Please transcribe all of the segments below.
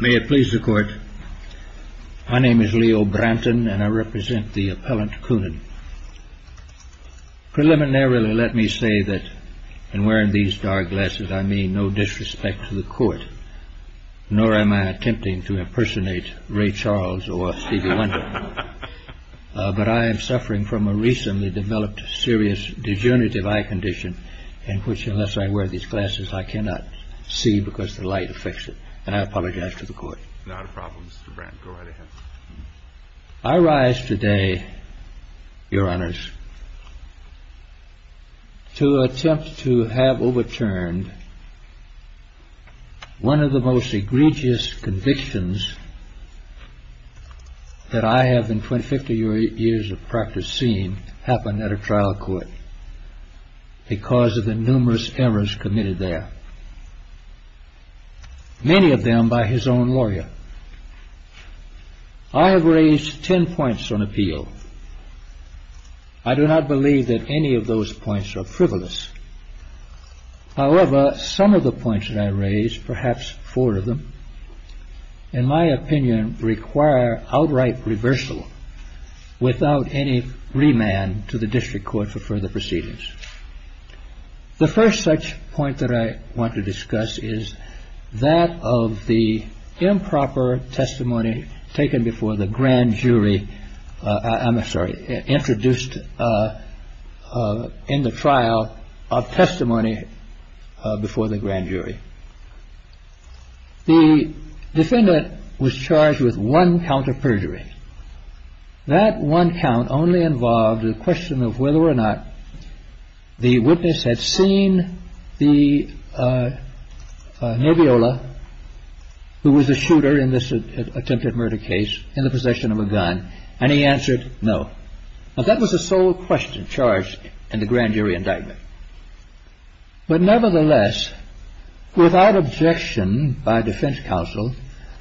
May it please the Court, my name is Leo Branton and I represent the appellant Koonin. Preliminarily, let me say that in wearing these dark glasses I mean no disrespect to the Court, nor am I attempting to impersonate Ray Charles or Stevie Wonder, but I am suffering from a recently developed serious dejunitive eye condition in which unless I wear these glasses I cannot see because the light affects it, and I apologize to the Court. I rise today, your honors, to attempt to have overturned one of the most egregious convictions that I have in fifty years of practice seen happen at a trial court because of the numerous errors committed there, many of them by his own lawyer. I have raised ten points on appeal. I do not believe that any of those points are frivolous. However, some of the points that I raise, perhaps four of them, in my opinion require outright reversal without any remand to the district court for further proceedings. The first such point that I want to discuss is that of the improper testimony taken before the grand jury, I'm sorry, introduced in the trial of testimony before the grand jury. The defendant was charged with one count of perjury. That one count only involved the question of whether or not the witness had seen the Noviola, who was the shooter in this attempted murder case, in the possession of a gun, and he answered no. That was the sole question charged in the grand jury indictment. But nevertheless, without objection by defense counsel,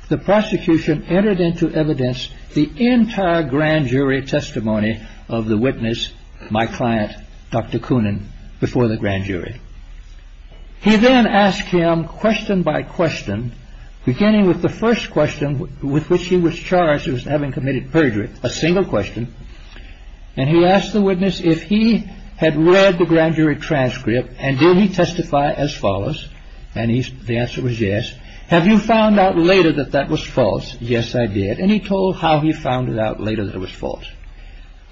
the prosecution entered into evidence the entire grand jury testimony of the witness, my client, Dr. Coonan, before the grand jury. He then asked him question by question, beginning with the first question with which he was charged as having committed perjury, a single question, and he asked the witness if he had read the grand jury transcript and did he testify as follows, and the answer was yes. Have you found out later that that was false? Yes, I did. And he told how he found it out later that it was false.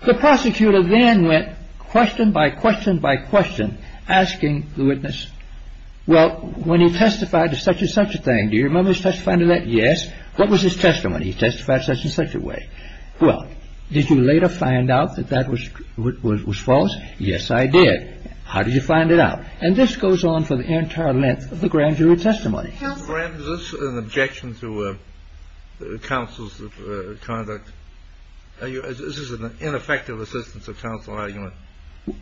The prosecutor then went question by question by question, asking the witness, well, when he testified to such and such a thing, do you remember his testimony to that? Yes. What was his testimony? He testified such and such a way. Well, did you later find out that that was false? Yes, I did. How did you find it out? And this goes on for the entire length of the grand jury testimony. Is this an objection to counsel's conduct? This is an ineffective assistance of counsel argument.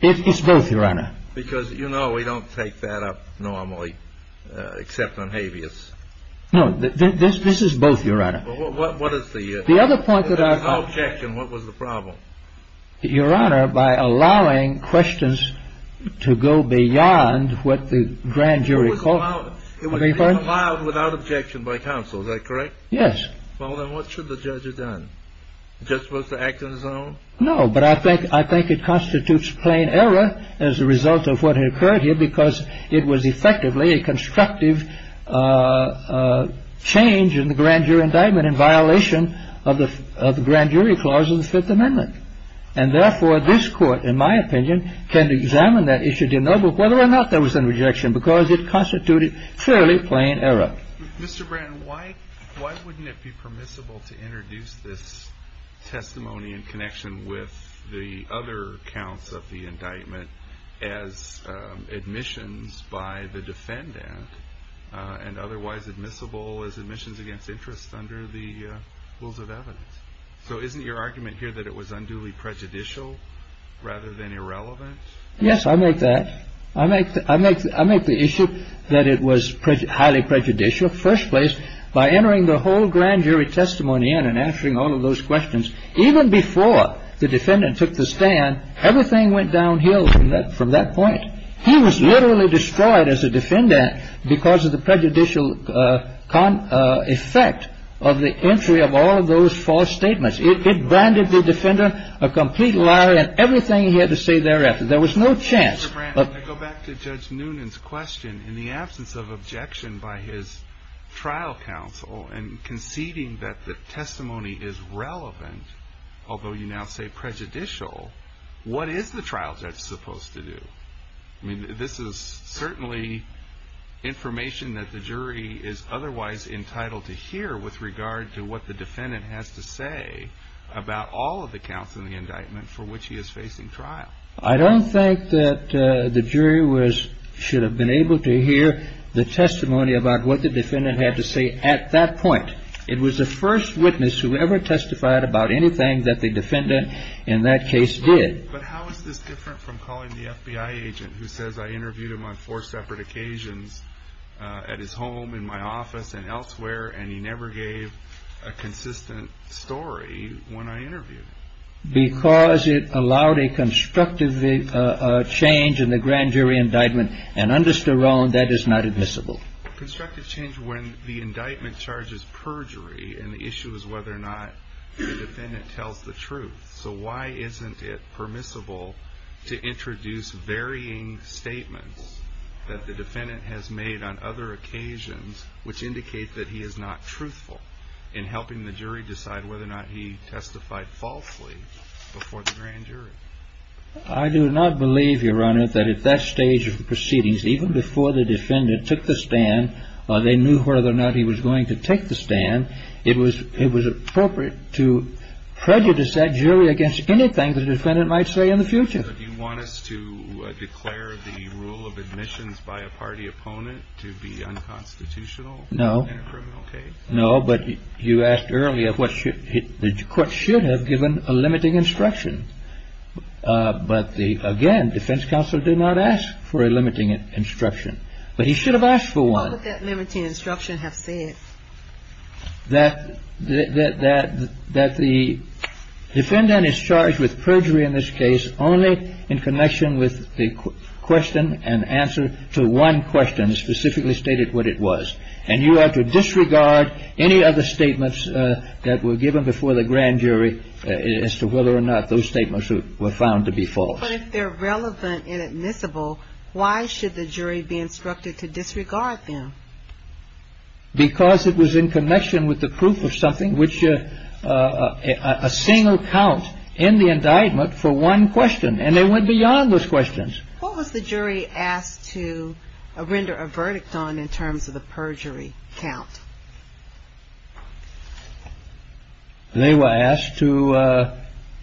It's both, Your Honor. Because, you know, we don't take that up normally, except on habeas. No, this is both, Your Honor. Without objection, what was the problem? Your Honor, by allowing questions to go beyond what the grand jury called for. It was allowed without objection by counsel, is that correct? Yes. Well, then what should the judge have done? Just was to act on his own? No, but I think it constitutes plain error as a result of what had occurred here, because it was effectively a constructive change in the grand jury indictment in violation of the grand jury clause of the Fifth Amendment. And therefore, this Court, in my opinion, can examine that issue, dear noble, whether or not there was an objection, because it constituted fairly plain error. Mr. Brand, why wouldn't it be permissible to introduce this testimony in connection with the other counts of the indictment as admissions by the defendant and otherwise admissible as admissions against interest under the rules of evidence? So isn't your argument here that it was unduly prejudicial rather than irrelevant? Yes, I make that. I make the issue that it was highly prejudicial. First place, by entering the whole grand jury testimony in and answering all of those questions, even before the defendant took the stand, everything went downhill from that point. He was literally destroyed as a defendant because of the prejudicial effect of the entry of all of those false statements. It branded the defendant a complete liar and everything he had to say thereafter. There was no chance. Mr. Brand, to go back to Judge Noonan's question, in the absence of objection by his trial counsel and conceding that the testimony is relevant, although you now say prejudicial, what is the trial judge supposed to do? I mean, this is certainly information that the jury is otherwise entitled to hear with regard to what the defendant has to say about all of the counts in the indictment for which he is facing trial. I don't think that the jury should have been able to hear the testimony about what the defendant had to say at that point. It was the first witness who ever testified about anything that the defendant in that case did. But how is this different from calling the FBI agent who says, I interviewed him on four separate occasions at his home, in my office and elsewhere, and he never gave a consistent story when I interviewed him? Because it allowed a constructive change in the grand jury indictment. And under Sterling, that is not admissible. Constructive change when the indictment charges perjury and the issue is whether or not the defendant tells the truth. So why isn't it permissible to introduce varying statements that the defendant has made on other occasions which indicate that he is not truthful in helping the jury decide whether or not he testified falsely before the grand jury? I do not believe, Your Honor, that at that stage of the proceedings, even before the defendant took the stand, they knew whether or not he was going to take the stand. It was appropriate to prejudice that jury against anything the defendant might say in the future. Do you want us to declare the rule of admissions by a party opponent to be unconstitutional? No. In a criminal case? No, but you asked earlier what should have given a limiting instruction. But again, defense counsel did not ask for a limiting instruction. But he should have asked for one. What would that limiting instruction have said? That the defendant is charged with perjury in this case only in connection with the question and answer to one question specifically stated what it was. And you are to disregard any other statements that were given before the grand jury as to whether or not those statements were found to be false. But if they're relevant and admissible, why should the jury be instructed to disregard them? Because it was in connection with the proof of something, which a single count in the indictment for one question, and they went beyond those questions. What was the jury asked to render a verdict on in terms of the perjury count? They were asked to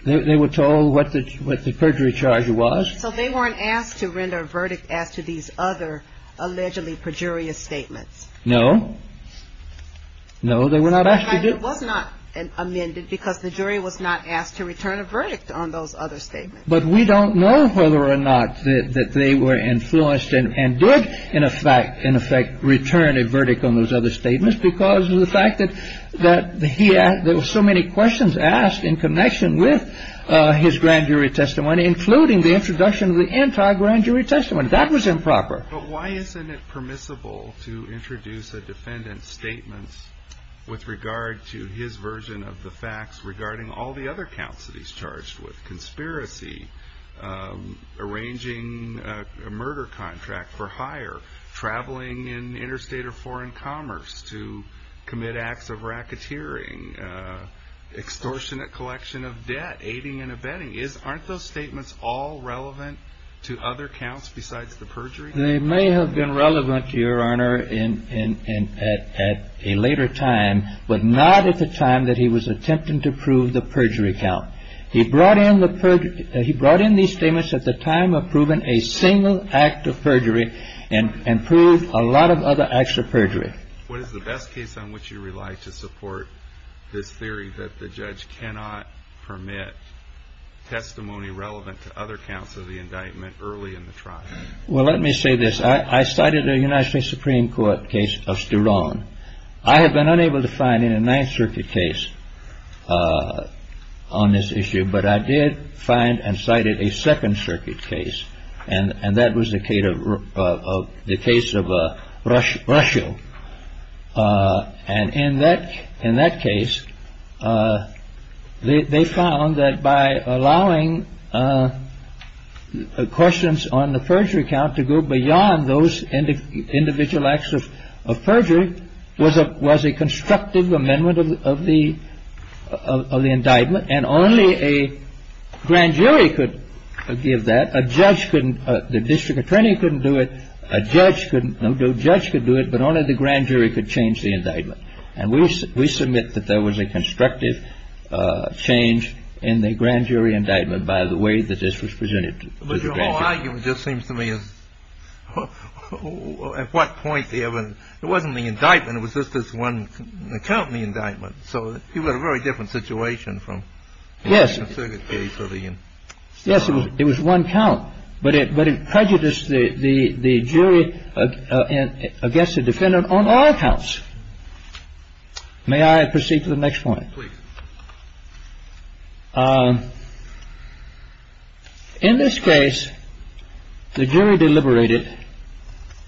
they were told what the perjury charge was. So they weren't asked to render a verdict as to these other allegedly perjurious statements. No, no, they were not. It was not amended because the jury was not asked to return a verdict on those other statements. But we don't know whether or not that they were influenced and did, in effect, in effect, return a verdict on those other statements. Because of the fact that there were so many questions asked in connection with his grand jury testimony, including the introduction of the anti-grand jury testimony. That was improper. But why isn't it permissible to introduce a defendant's statements with regard to his version of the facts regarding all the other counts that he's charged with? arranging a murder contract for hire, traveling in interstate or foreign commerce to commit acts of racketeering, extortionate collection of debt, aiding and abetting. Aren't those statements all relevant to other counts besides the perjury? They may have been relevant, Your Honor, at a later time, but not at the time that he was attempting to prove the perjury count. He brought in these statements at the time of proving a single act of perjury and proved a lot of other acts of perjury. What is the best case on which you rely to support this theory that the judge cannot permit testimony relevant to other counts of the indictment early in the trial? Well, let me say this. I cited the United States Supreme Court case of Sturone. I have been unable to find in a Ninth Circuit case on this issue, but I did find and cited a Second Circuit case. And that was the case of the case of Russia. And in that in that case, they found that by allowing questions on the perjury count to go beyond those individual acts of perjury, was a was a constructive amendment of the of the indictment. And only a grand jury could give that. A judge couldn't. The district attorney couldn't do it. A judge couldn't. No judge could do it. But only the grand jury could change the indictment. And we we submit that there was a constructive change in the grand jury indictment by the way that this was presented. But your whole argument just seems to me as well. At what point? It wasn't the indictment. It was just this one count in the indictment. So you've got a very different situation from yes. Yes. It was one count. But it but it prejudiced the jury against the defendant on all accounts. May I proceed to the next point? In this case, the jury deliberated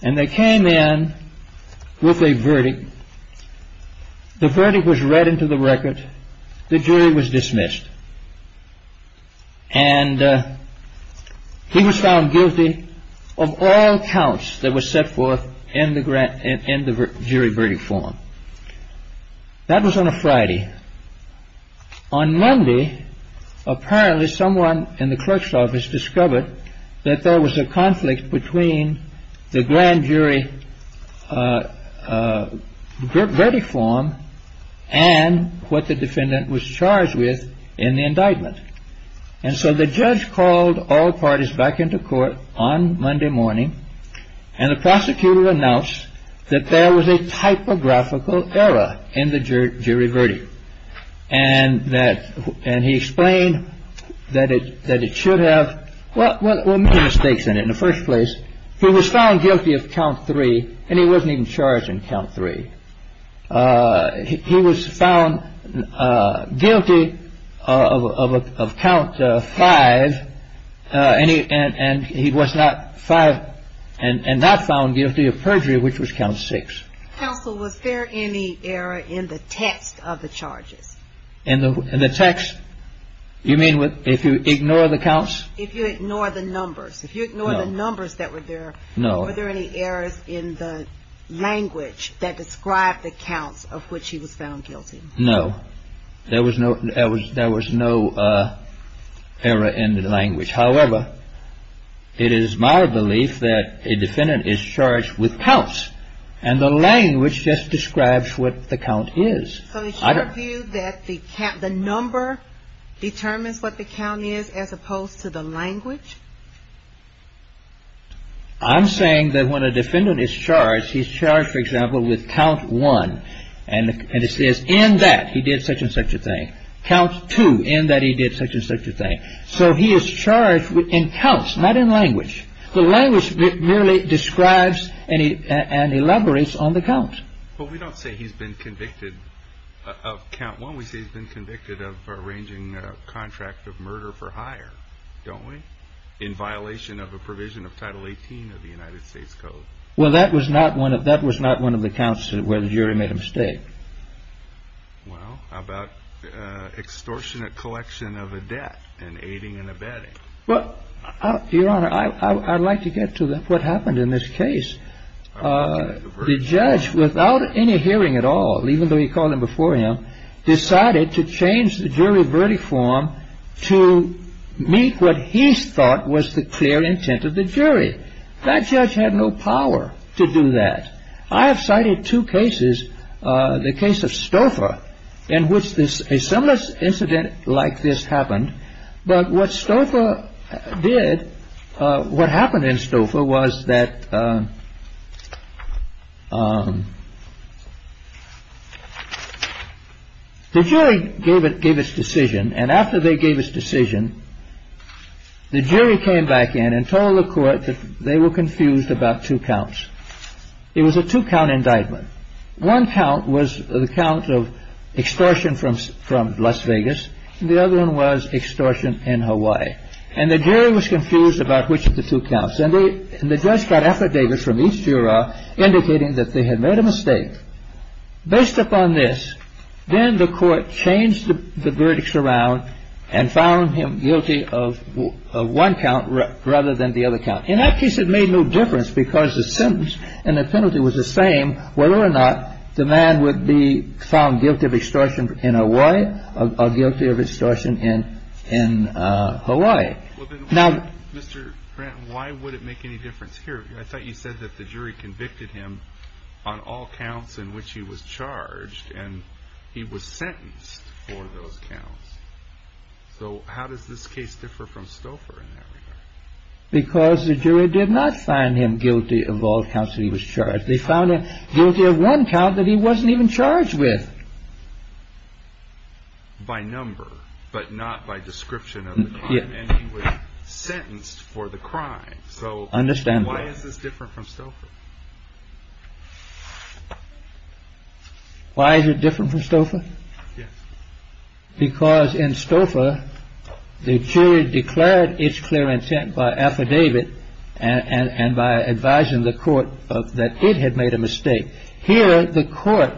and they came in with a verdict. The verdict was read into the record. The jury was dismissed. And he was found guilty of all counts that were set forth in the jury verdict form. On Monday, apparently someone in the clerk's office discovered that there was a conflict between the grand jury verdict form and what the defendant was charged with in the indictment. And so the judge called all parties back into court on Monday morning and the prosecutor announced that there was a typographical error in the jury verdict. And that. And he explained that it that it should have. What were the mistakes in it in the first place? He was found guilty of count three and he wasn't even charged in count three. He was found guilty of count five and he and he was not five and not found guilty of perjury, which was count six. So was there any error in the text of the charges in the text? You mean if you ignore the counts, if you ignore the numbers, if you ignore the numbers that were there? No. Are there any errors in the language that described the counts of which he was found guilty? No, there was no there was there was no error in the language. However, it is my belief that a defendant is charged with counts and the language just describes what the count is. So is your view that the count, the number determines what the count is as opposed to the language? I'm saying that when a defendant is charged, he's charged, for example, with count one and it says in that he did such and such a thing. Count two in that he did such and such a thing. So he is charged with in counts, not in language. The language merely describes and elaborates on the count. But we don't say he's been convicted of count one. We say he's been convicted of arranging a contract of murder for hire, don't we? In violation of a provision of Title 18 of the United States Code. Well, that was not one of that was not one of the counts where the jury made a mistake. Well, how about extortionate collection of a debt and aiding and abetting? Well, Your Honor, I'd like to get to what happened in this case. The judge, without any hearing at all, even though he called him before him, decided to change the jury verdict form to meet what he thought was the clear intent of the jury. That judge had no power to do that. I have cited two cases. The case of Stouffer in which this a similar incident like this happened. But what Stouffer did, what happened in Stouffer was that the jury gave it gave its decision. And after they gave his decision, the jury came back in and told the court that they were confused about two counts. It was a two count indictment. One count was the count of extortion from Las Vegas. The other one was extortion in Hawaii. And the jury was confused about which of the two counts. And the judge got affidavits from each juror indicating that they had made a mistake. Based upon this, then the court changed the verdicts around and found him guilty of one count rather than the other count. In that case, it made no difference because the sentence and the penalty was the same. Whether or not the man would be found guilty of extortion in Hawaii or guilty of extortion in Hawaii. Now, Mr. Grant, why would it make any difference here? I thought you said that the jury convicted him on all counts in which he was charged and he was sentenced for those counts. So how does this case differ from Stouffer? Because the jury did not find him guilty of all counts. He was charged. They found guilty of one count that he wasn't even charged with. By number, but not by description. Yeah. Sentenced for the crime. So understand why is this different from Stouffer? Why is it different from Stouffer? Because in Stouffer, the jury declared its clear intent by affidavit and by advising the court that it had made a mistake. Here, the court,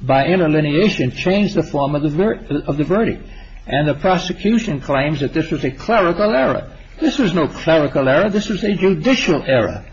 by interlineation, changed the form of the verdict. And the prosecution claims that this was a clerical error. This was no clerical error. This was a judicial error.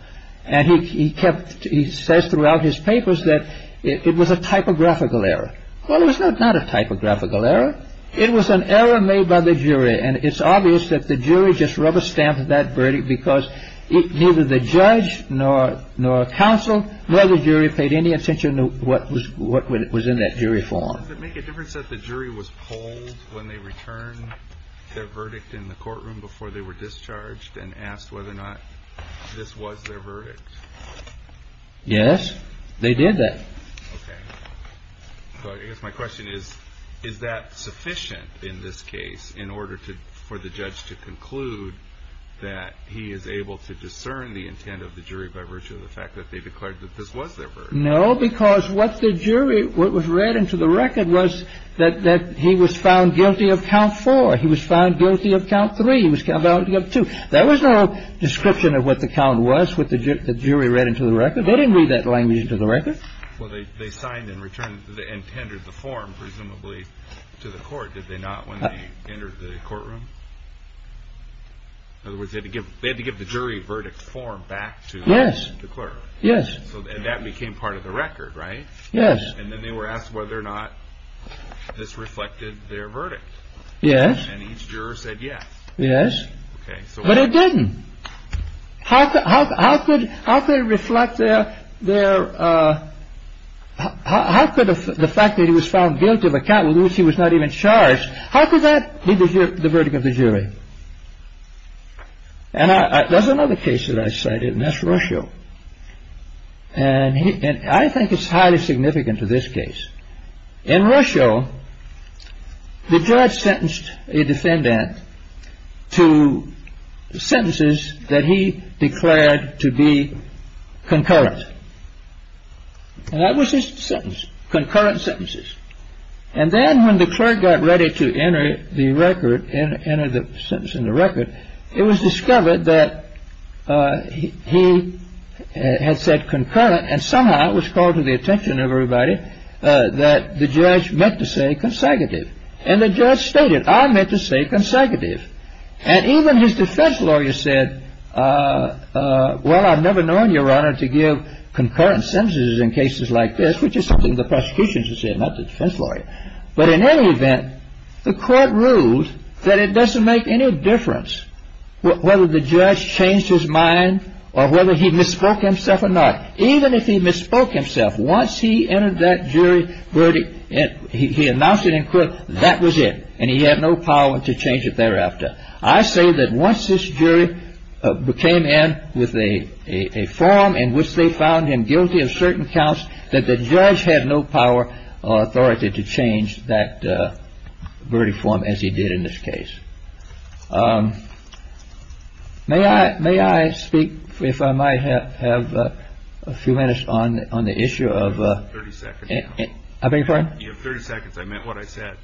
And he kept, he says throughout his papers that it was a typographical error. Well, it was not a typographical error. It was an error made by the jury. And it's obvious that the jury just rubber stamped that verdict because neither the judge nor counsel, nor the jury paid any attention to what was in that jury form. Does it make a difference that the jury was polled when they returned their verdict in the courtroom before they were discharged and asked whether or not this was their verdict? Yes, they did that. Okay. So I guess my question is, is that sufficient in this case in order for the judge to conclude that he is able to discern the intent of the jury by virtue of the fact that they declared that this was their verdict? No, because what the jury, what was read into the record was that he was found guilty of count four. He was found guilty of count three. He was found guilty of two. There was no description of what the count was, what the jury read into the record. They didn't read that language into the record. Well, they signed and returned the intended the form presumably to the court. Did they not when they entered the courtroom? In other words, they had to give they had to give the jury verdict form back to. Yes. Yes. And that became part of the record. Right. Yes. And then they were asked whether or not this reflected their verdict. Yes. And each juror said yes. Yes. But it didn't. How could how could how could it reflect their their. How could the fact that he was found guilty of a count with which he was not even charged. How could that be the verdict of the jury? And there's another case that I cited, and that's Russia. And I think it's highly significant to this case. In Russia, the judge sentenced a defendant to sentences that he declared to be concurrent. And that was his sentence, concurrent sentences. And then when the clerk got ready to enter the record and enter the sentence in the record, it was discovered that he had said concurrent. And somehow it was called to the attention of everybody that the judge meant to say consecutive. And the judge stated, I meant to say consecutive. And even his defense lawyer said, well, I've never known your honor to give concurrent sentences in cases like this, which is something the prosecution should say, not the defense lawyer. But in any event, the court ruled that it doesn't make any difference whether the judge changed his mind or whether he misspoke himself or not. Even if he misspoke himself, once he entered that jury verdict and he announced it in court, that was it. And he had no power to change it thereafter. I say that once this jury came in with a form in which they found him guilty of certain counts, that the judge had no power or authority to change that verdict form as he did in this case. May I may I speak if I might have a few minutes on the issue of 30 seconds. I beg your pardon. 30 seconds. I meant what I said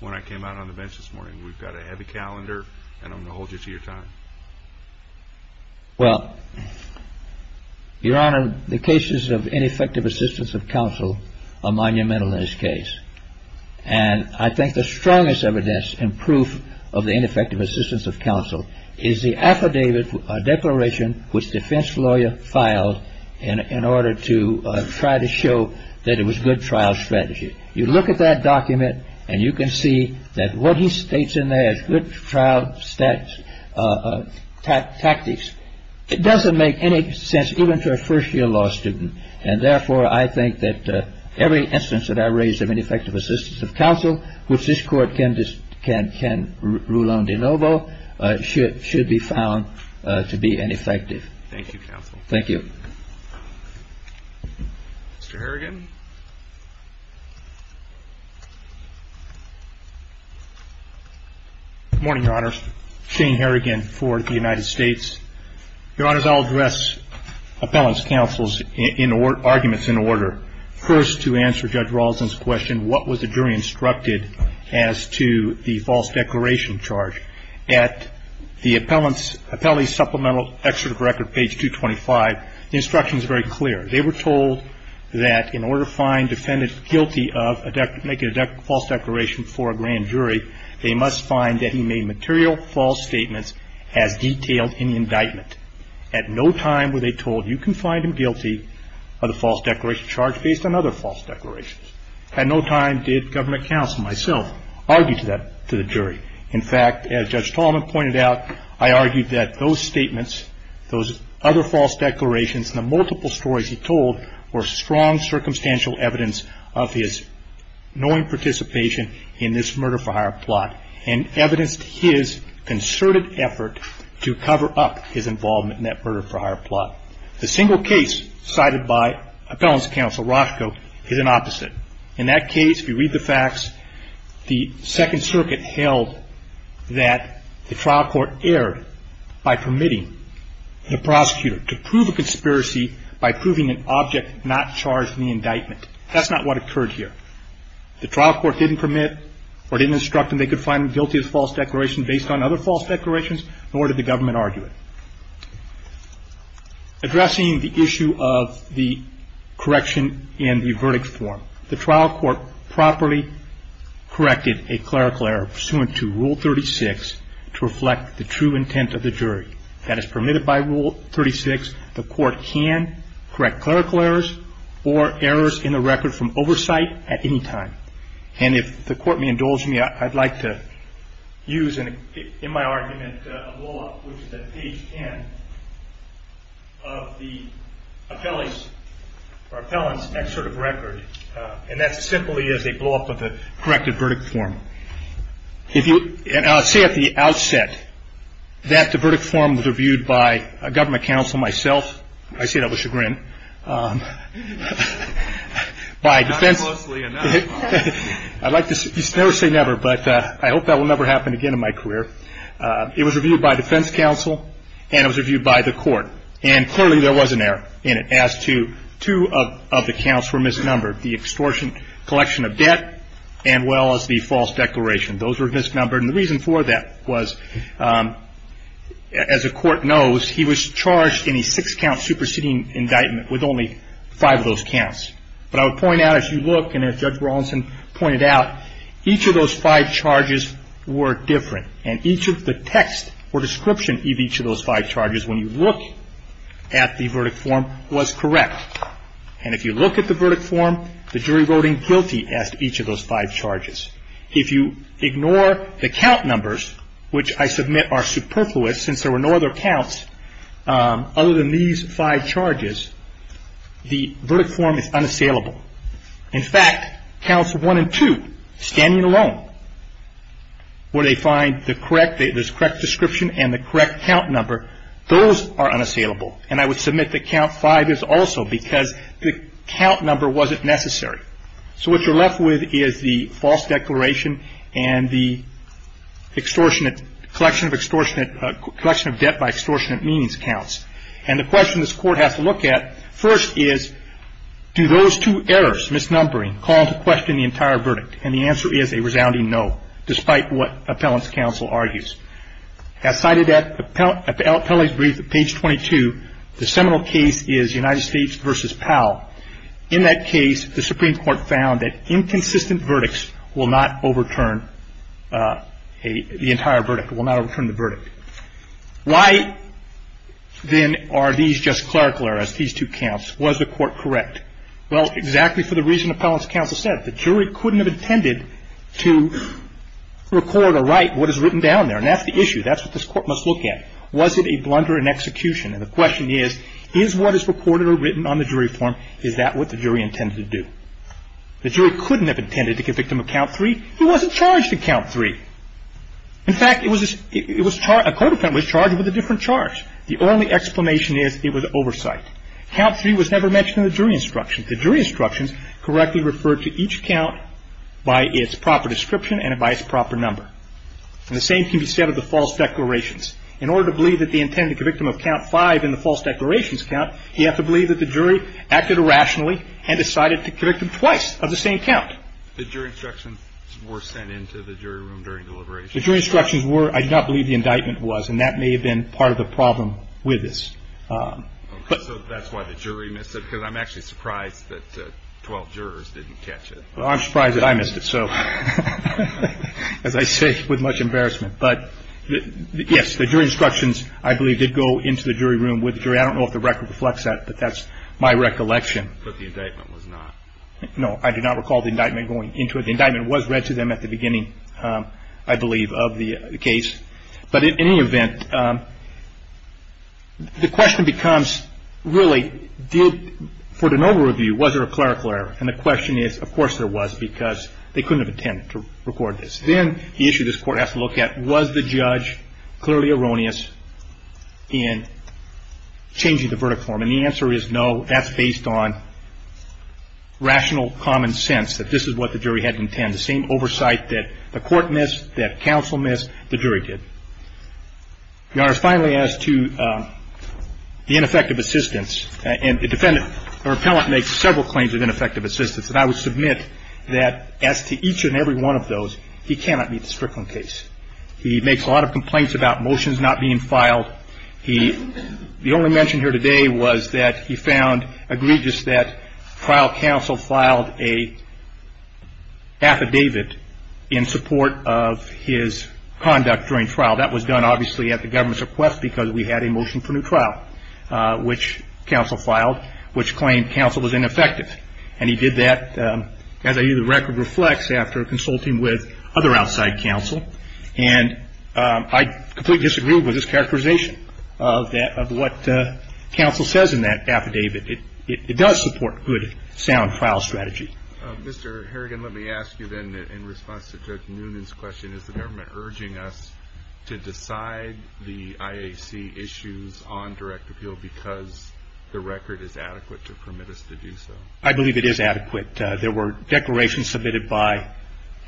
when I came out on the bench this morning. We've got a heavy calendar and I'm going to hold you to your time. Well, your honor, the cases of ineffective assistance of counsel are monumental in this case. And I think the strongest evidence and proof of the ineffective assistance of counsel is the affidavit declaration, which defense lawyer filed in order to try to show that it was good trial strategy. You look at that document and you can see that what he states in there is good trial steps, tactics. It doesn't make any sense even to a first year law student. And therefore, I think that every instance that I raise of ineffective assistance of counsel, which this court can rule on de novo, should be found to be ineffective. Thank you, counsel. Thank you. Mr. Harrigan. Good morning, your honor. Shane Harrigan for the United States. Your honor, I'll address appellant's counsel's arguments in order. First, to answer Judge Rawson's question, what was the jury instructed as to the false declaration charge? At the appellee's supplemental excerpt of record, page 225, the instruction is very clear. They were told that in order to find defendant guilty of making a false declaration for a grand jury, they must find that he made material false statements as detailed in the indictment. At no time were they told you can find him guilty of the false declaration charge based on other false declarations. At no time did governor counsel, myself, argue to that to the jury. In fact, as Judge Tolman pointed out, I argued that those statements, those other false declarations, the multiple stories he told were strong circumstantial evidence of his knowing participation in this murder-for-hire plot and evidenced his concerted effort to cover up his involvement in that murder-for-hire plot. The single case cited by appellant's counsel, Roscoe, is an opposite. In that case, if you read the facts, the Second Circuit held that the trial court erred by permitting the prosecutor to prove a conspiracy by proving an object not charged in the indictment. That's not what occurred here. The trial court didn't permit or didn't instruct them they could find guilty of false declaration based on other false declarations, nor did the government argue it. Addressing the issue of the correction in the verdict form, the trial court properly corrected a clerical error pursuant to Rule 36 to reflect the true intent of the jury. That is permitted by Rule 36. The court can correct clerical errors or errors in the record from oversight at any time. And if the court may indulge me, I'd like to use in my argument a blow-up, which is at page 10, of the appellant's excerpt of record, and that simply is a blow-up of the corrected verdict form. And I'll say at the outset that the verdict form was reviewed by a government counsel myself. I say that with chagrin. Not closely enough. I'd like to never say never, but I hope that will never happen again in my career. It was reviewed by defense counsel, and it was reviewed by the court. And clearly there was an error in it as to two of the counts were misnumbered, the extortion collection of debt and, well, as the false declaration. Those were misnumbered, and the reason for that was, as the court knows, he was charged in a six-count superseding indictment with only five of those counts. But I would point out, as you look and as Judge Rawlinson pointed out, each of those five charges were different. And each of the text or description of each of those five charges, when you look at the verdict form, was correct. And if you look at the verdict form, the jury voting guilty as to each of those five charges. If you ignore the count numbers, which I submit are superfluous since there were no other counts other than these five charges, the verdict form is unassailable. In fact, counts one and two, standing alone, where they find the correct description and the correct count number, those are unassailable. And I would submit that count five is also because the count number wasn't necessary. So what you're left with is the false declaration and the extortionate collection of debt by extortionate meanings counts. And the question this court has to look at first is, do those two errors, misnumbering, call into question the entire verdict? And the answer is a resounding no, despite what appellant's counsel argues. As cited at the appellate's brief at page 22, the seminal case is United States v. Powell. In that case, the Supreme Court found that inconsistent verdicts will not overturn the entire verdict, will not overturn the verdict. Why, then, are these just clerical errors, these two counts? Was the court correct? Well, exactly for the reason appellant's counsel said. The jury couldn't have intended to record or write what is written down there. And that's the issue. That's what this court must look at. Was it a blunder in execution? And the question is, is what is recorded or written on the jury form, is that what the jury intended to do? The jury couldn't have intended to convict him of count three. He wasn't charged in count three. In fact, it was a court appellant was charged with a different charge. The only explanation is it was oversight. Count three was never mentioned in the jury instructions. The jury instructions correctly referred to each count by its proper description and by its proper number. And the same can be said of the false declarations. In order to believe that they intended to convict him of count five in the false declarations count, you have to believe that the jury acted irrationally and decided to convict him twice of the same count. The jury instructions were sent into the jury room during deliberation? The jury instructions were. I do not believe the indictment was. And that may have been part of the problem with this. So that's why the jury missed it, because I'm actually surprised that 12 jurors didn't catch it. I'm surprised that I missed it. So as I say, with much embarrassment. But yes, the jury instructions, I believe, did go into the jury room with the jury. I don't know if the record reflects that, but that's my recollection. But the indictment was not. No, I do not recall the indictment going into it. The indictment was read to them at the beginning, I believe, of the case. But in any event, the question becomes, really, did, for de novo review, was there a clerical error? And the question is, of course there was, because they couldn't have intended to record this. Then the issue this Court has to look at, was the judge clearly erroneous in changing the verdict form? And the answer is no. That's based on rational common sense, that this is what the jury had to intend. The same oversight that the Court missed, that counsel missed, the jury did. Your Honor, finally, as to the ineffective assistance. And the defendant, the repellent, makes several claims of ineffective assistance. And I would submit that, as to each and every one of those, he cannot meet the Strickland case. He makes a lot of complaints about motions not being filed. The only mention here today was that he found egregious that trial counsel filed an affidavit in support of his conduct during trial. That was done, obviously, at the government's request, because we had a motion for new trial, which counsel filed, which claimed counsel was ineffective. And he did that, as I view the record reflects, after consulting with other outside counsel. And I completely disagree with this characterization of what counsel says in that affidavit. It does support good, sound trial strategy. Mr. Harrigan, let me ask you then, in response to Judge Noonan's question, is the government urging us to decide the IAC issues on direct appeal because the record is adequate to permit us to do so? I believe it is adequate. There were declarations submitted by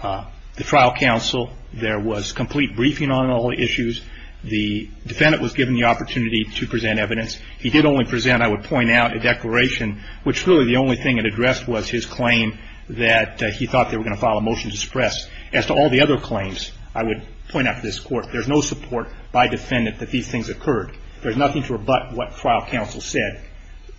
the trial counsel. There was complete briefing on all the issues. The defendant was given the opportunity to present evidence. He did only present, I would point out, a declaration, which really the only thing it addressed was his claim that he thought they were going to file a motion to suppress. As to all the other claims, I would point out to this Court, there's no support by defendant that these things occurred. There's nothing to rebut what trial counsel said.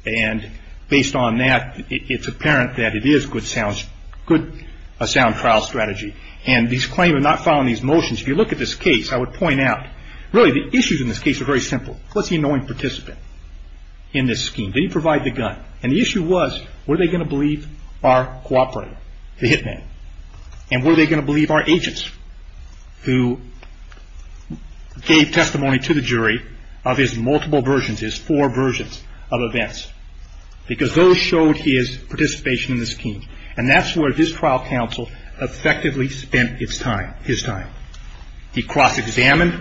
And based on that, it's apparent that it is good, sound trial strategy. And this claim of not filing these motions, if you look at this case, I would point out, really the issues in this case are very simple. What's the annoying participant in this scheme? Did he provide the gun? And the issue was, were they going to believe our cooperator, the hit man? And were they going to believe our agents who gave testimony to the jury of his multiple versions, his four versions of events? Because those showed his participation in the scheme. And that's where his trial counsel effectively spent his time. He cross-examined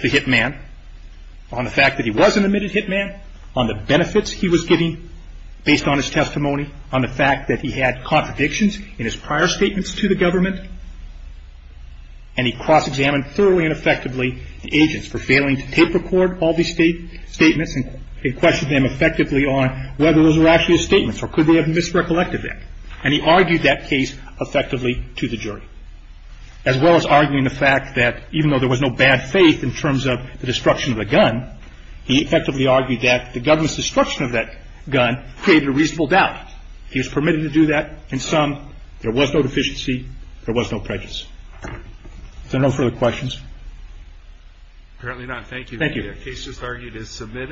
the hit man on the fact that he was an admitted hit man, on the benefits he was getting based on his testimony, on the fact that he had contradictions in his prior statements to the government, and he cross-examined thoroughly and effectively the agents for failing to tape record all these statements and questioned them effectively on whether those were actually his statements or could they have misrecollected that. And he argued that case effectively to the jury, as well as arguing the fact that even though there was no bad faith in terms of the destruction of the gun, he effectively argued that the government's destruction of that gun created a reasonable doubt. He was permitted to do that. In sum, there was no deficiency. There was no prejudice. Is there no further questions? Apparently not. Thank you. Thank you. The case as argued is submitted.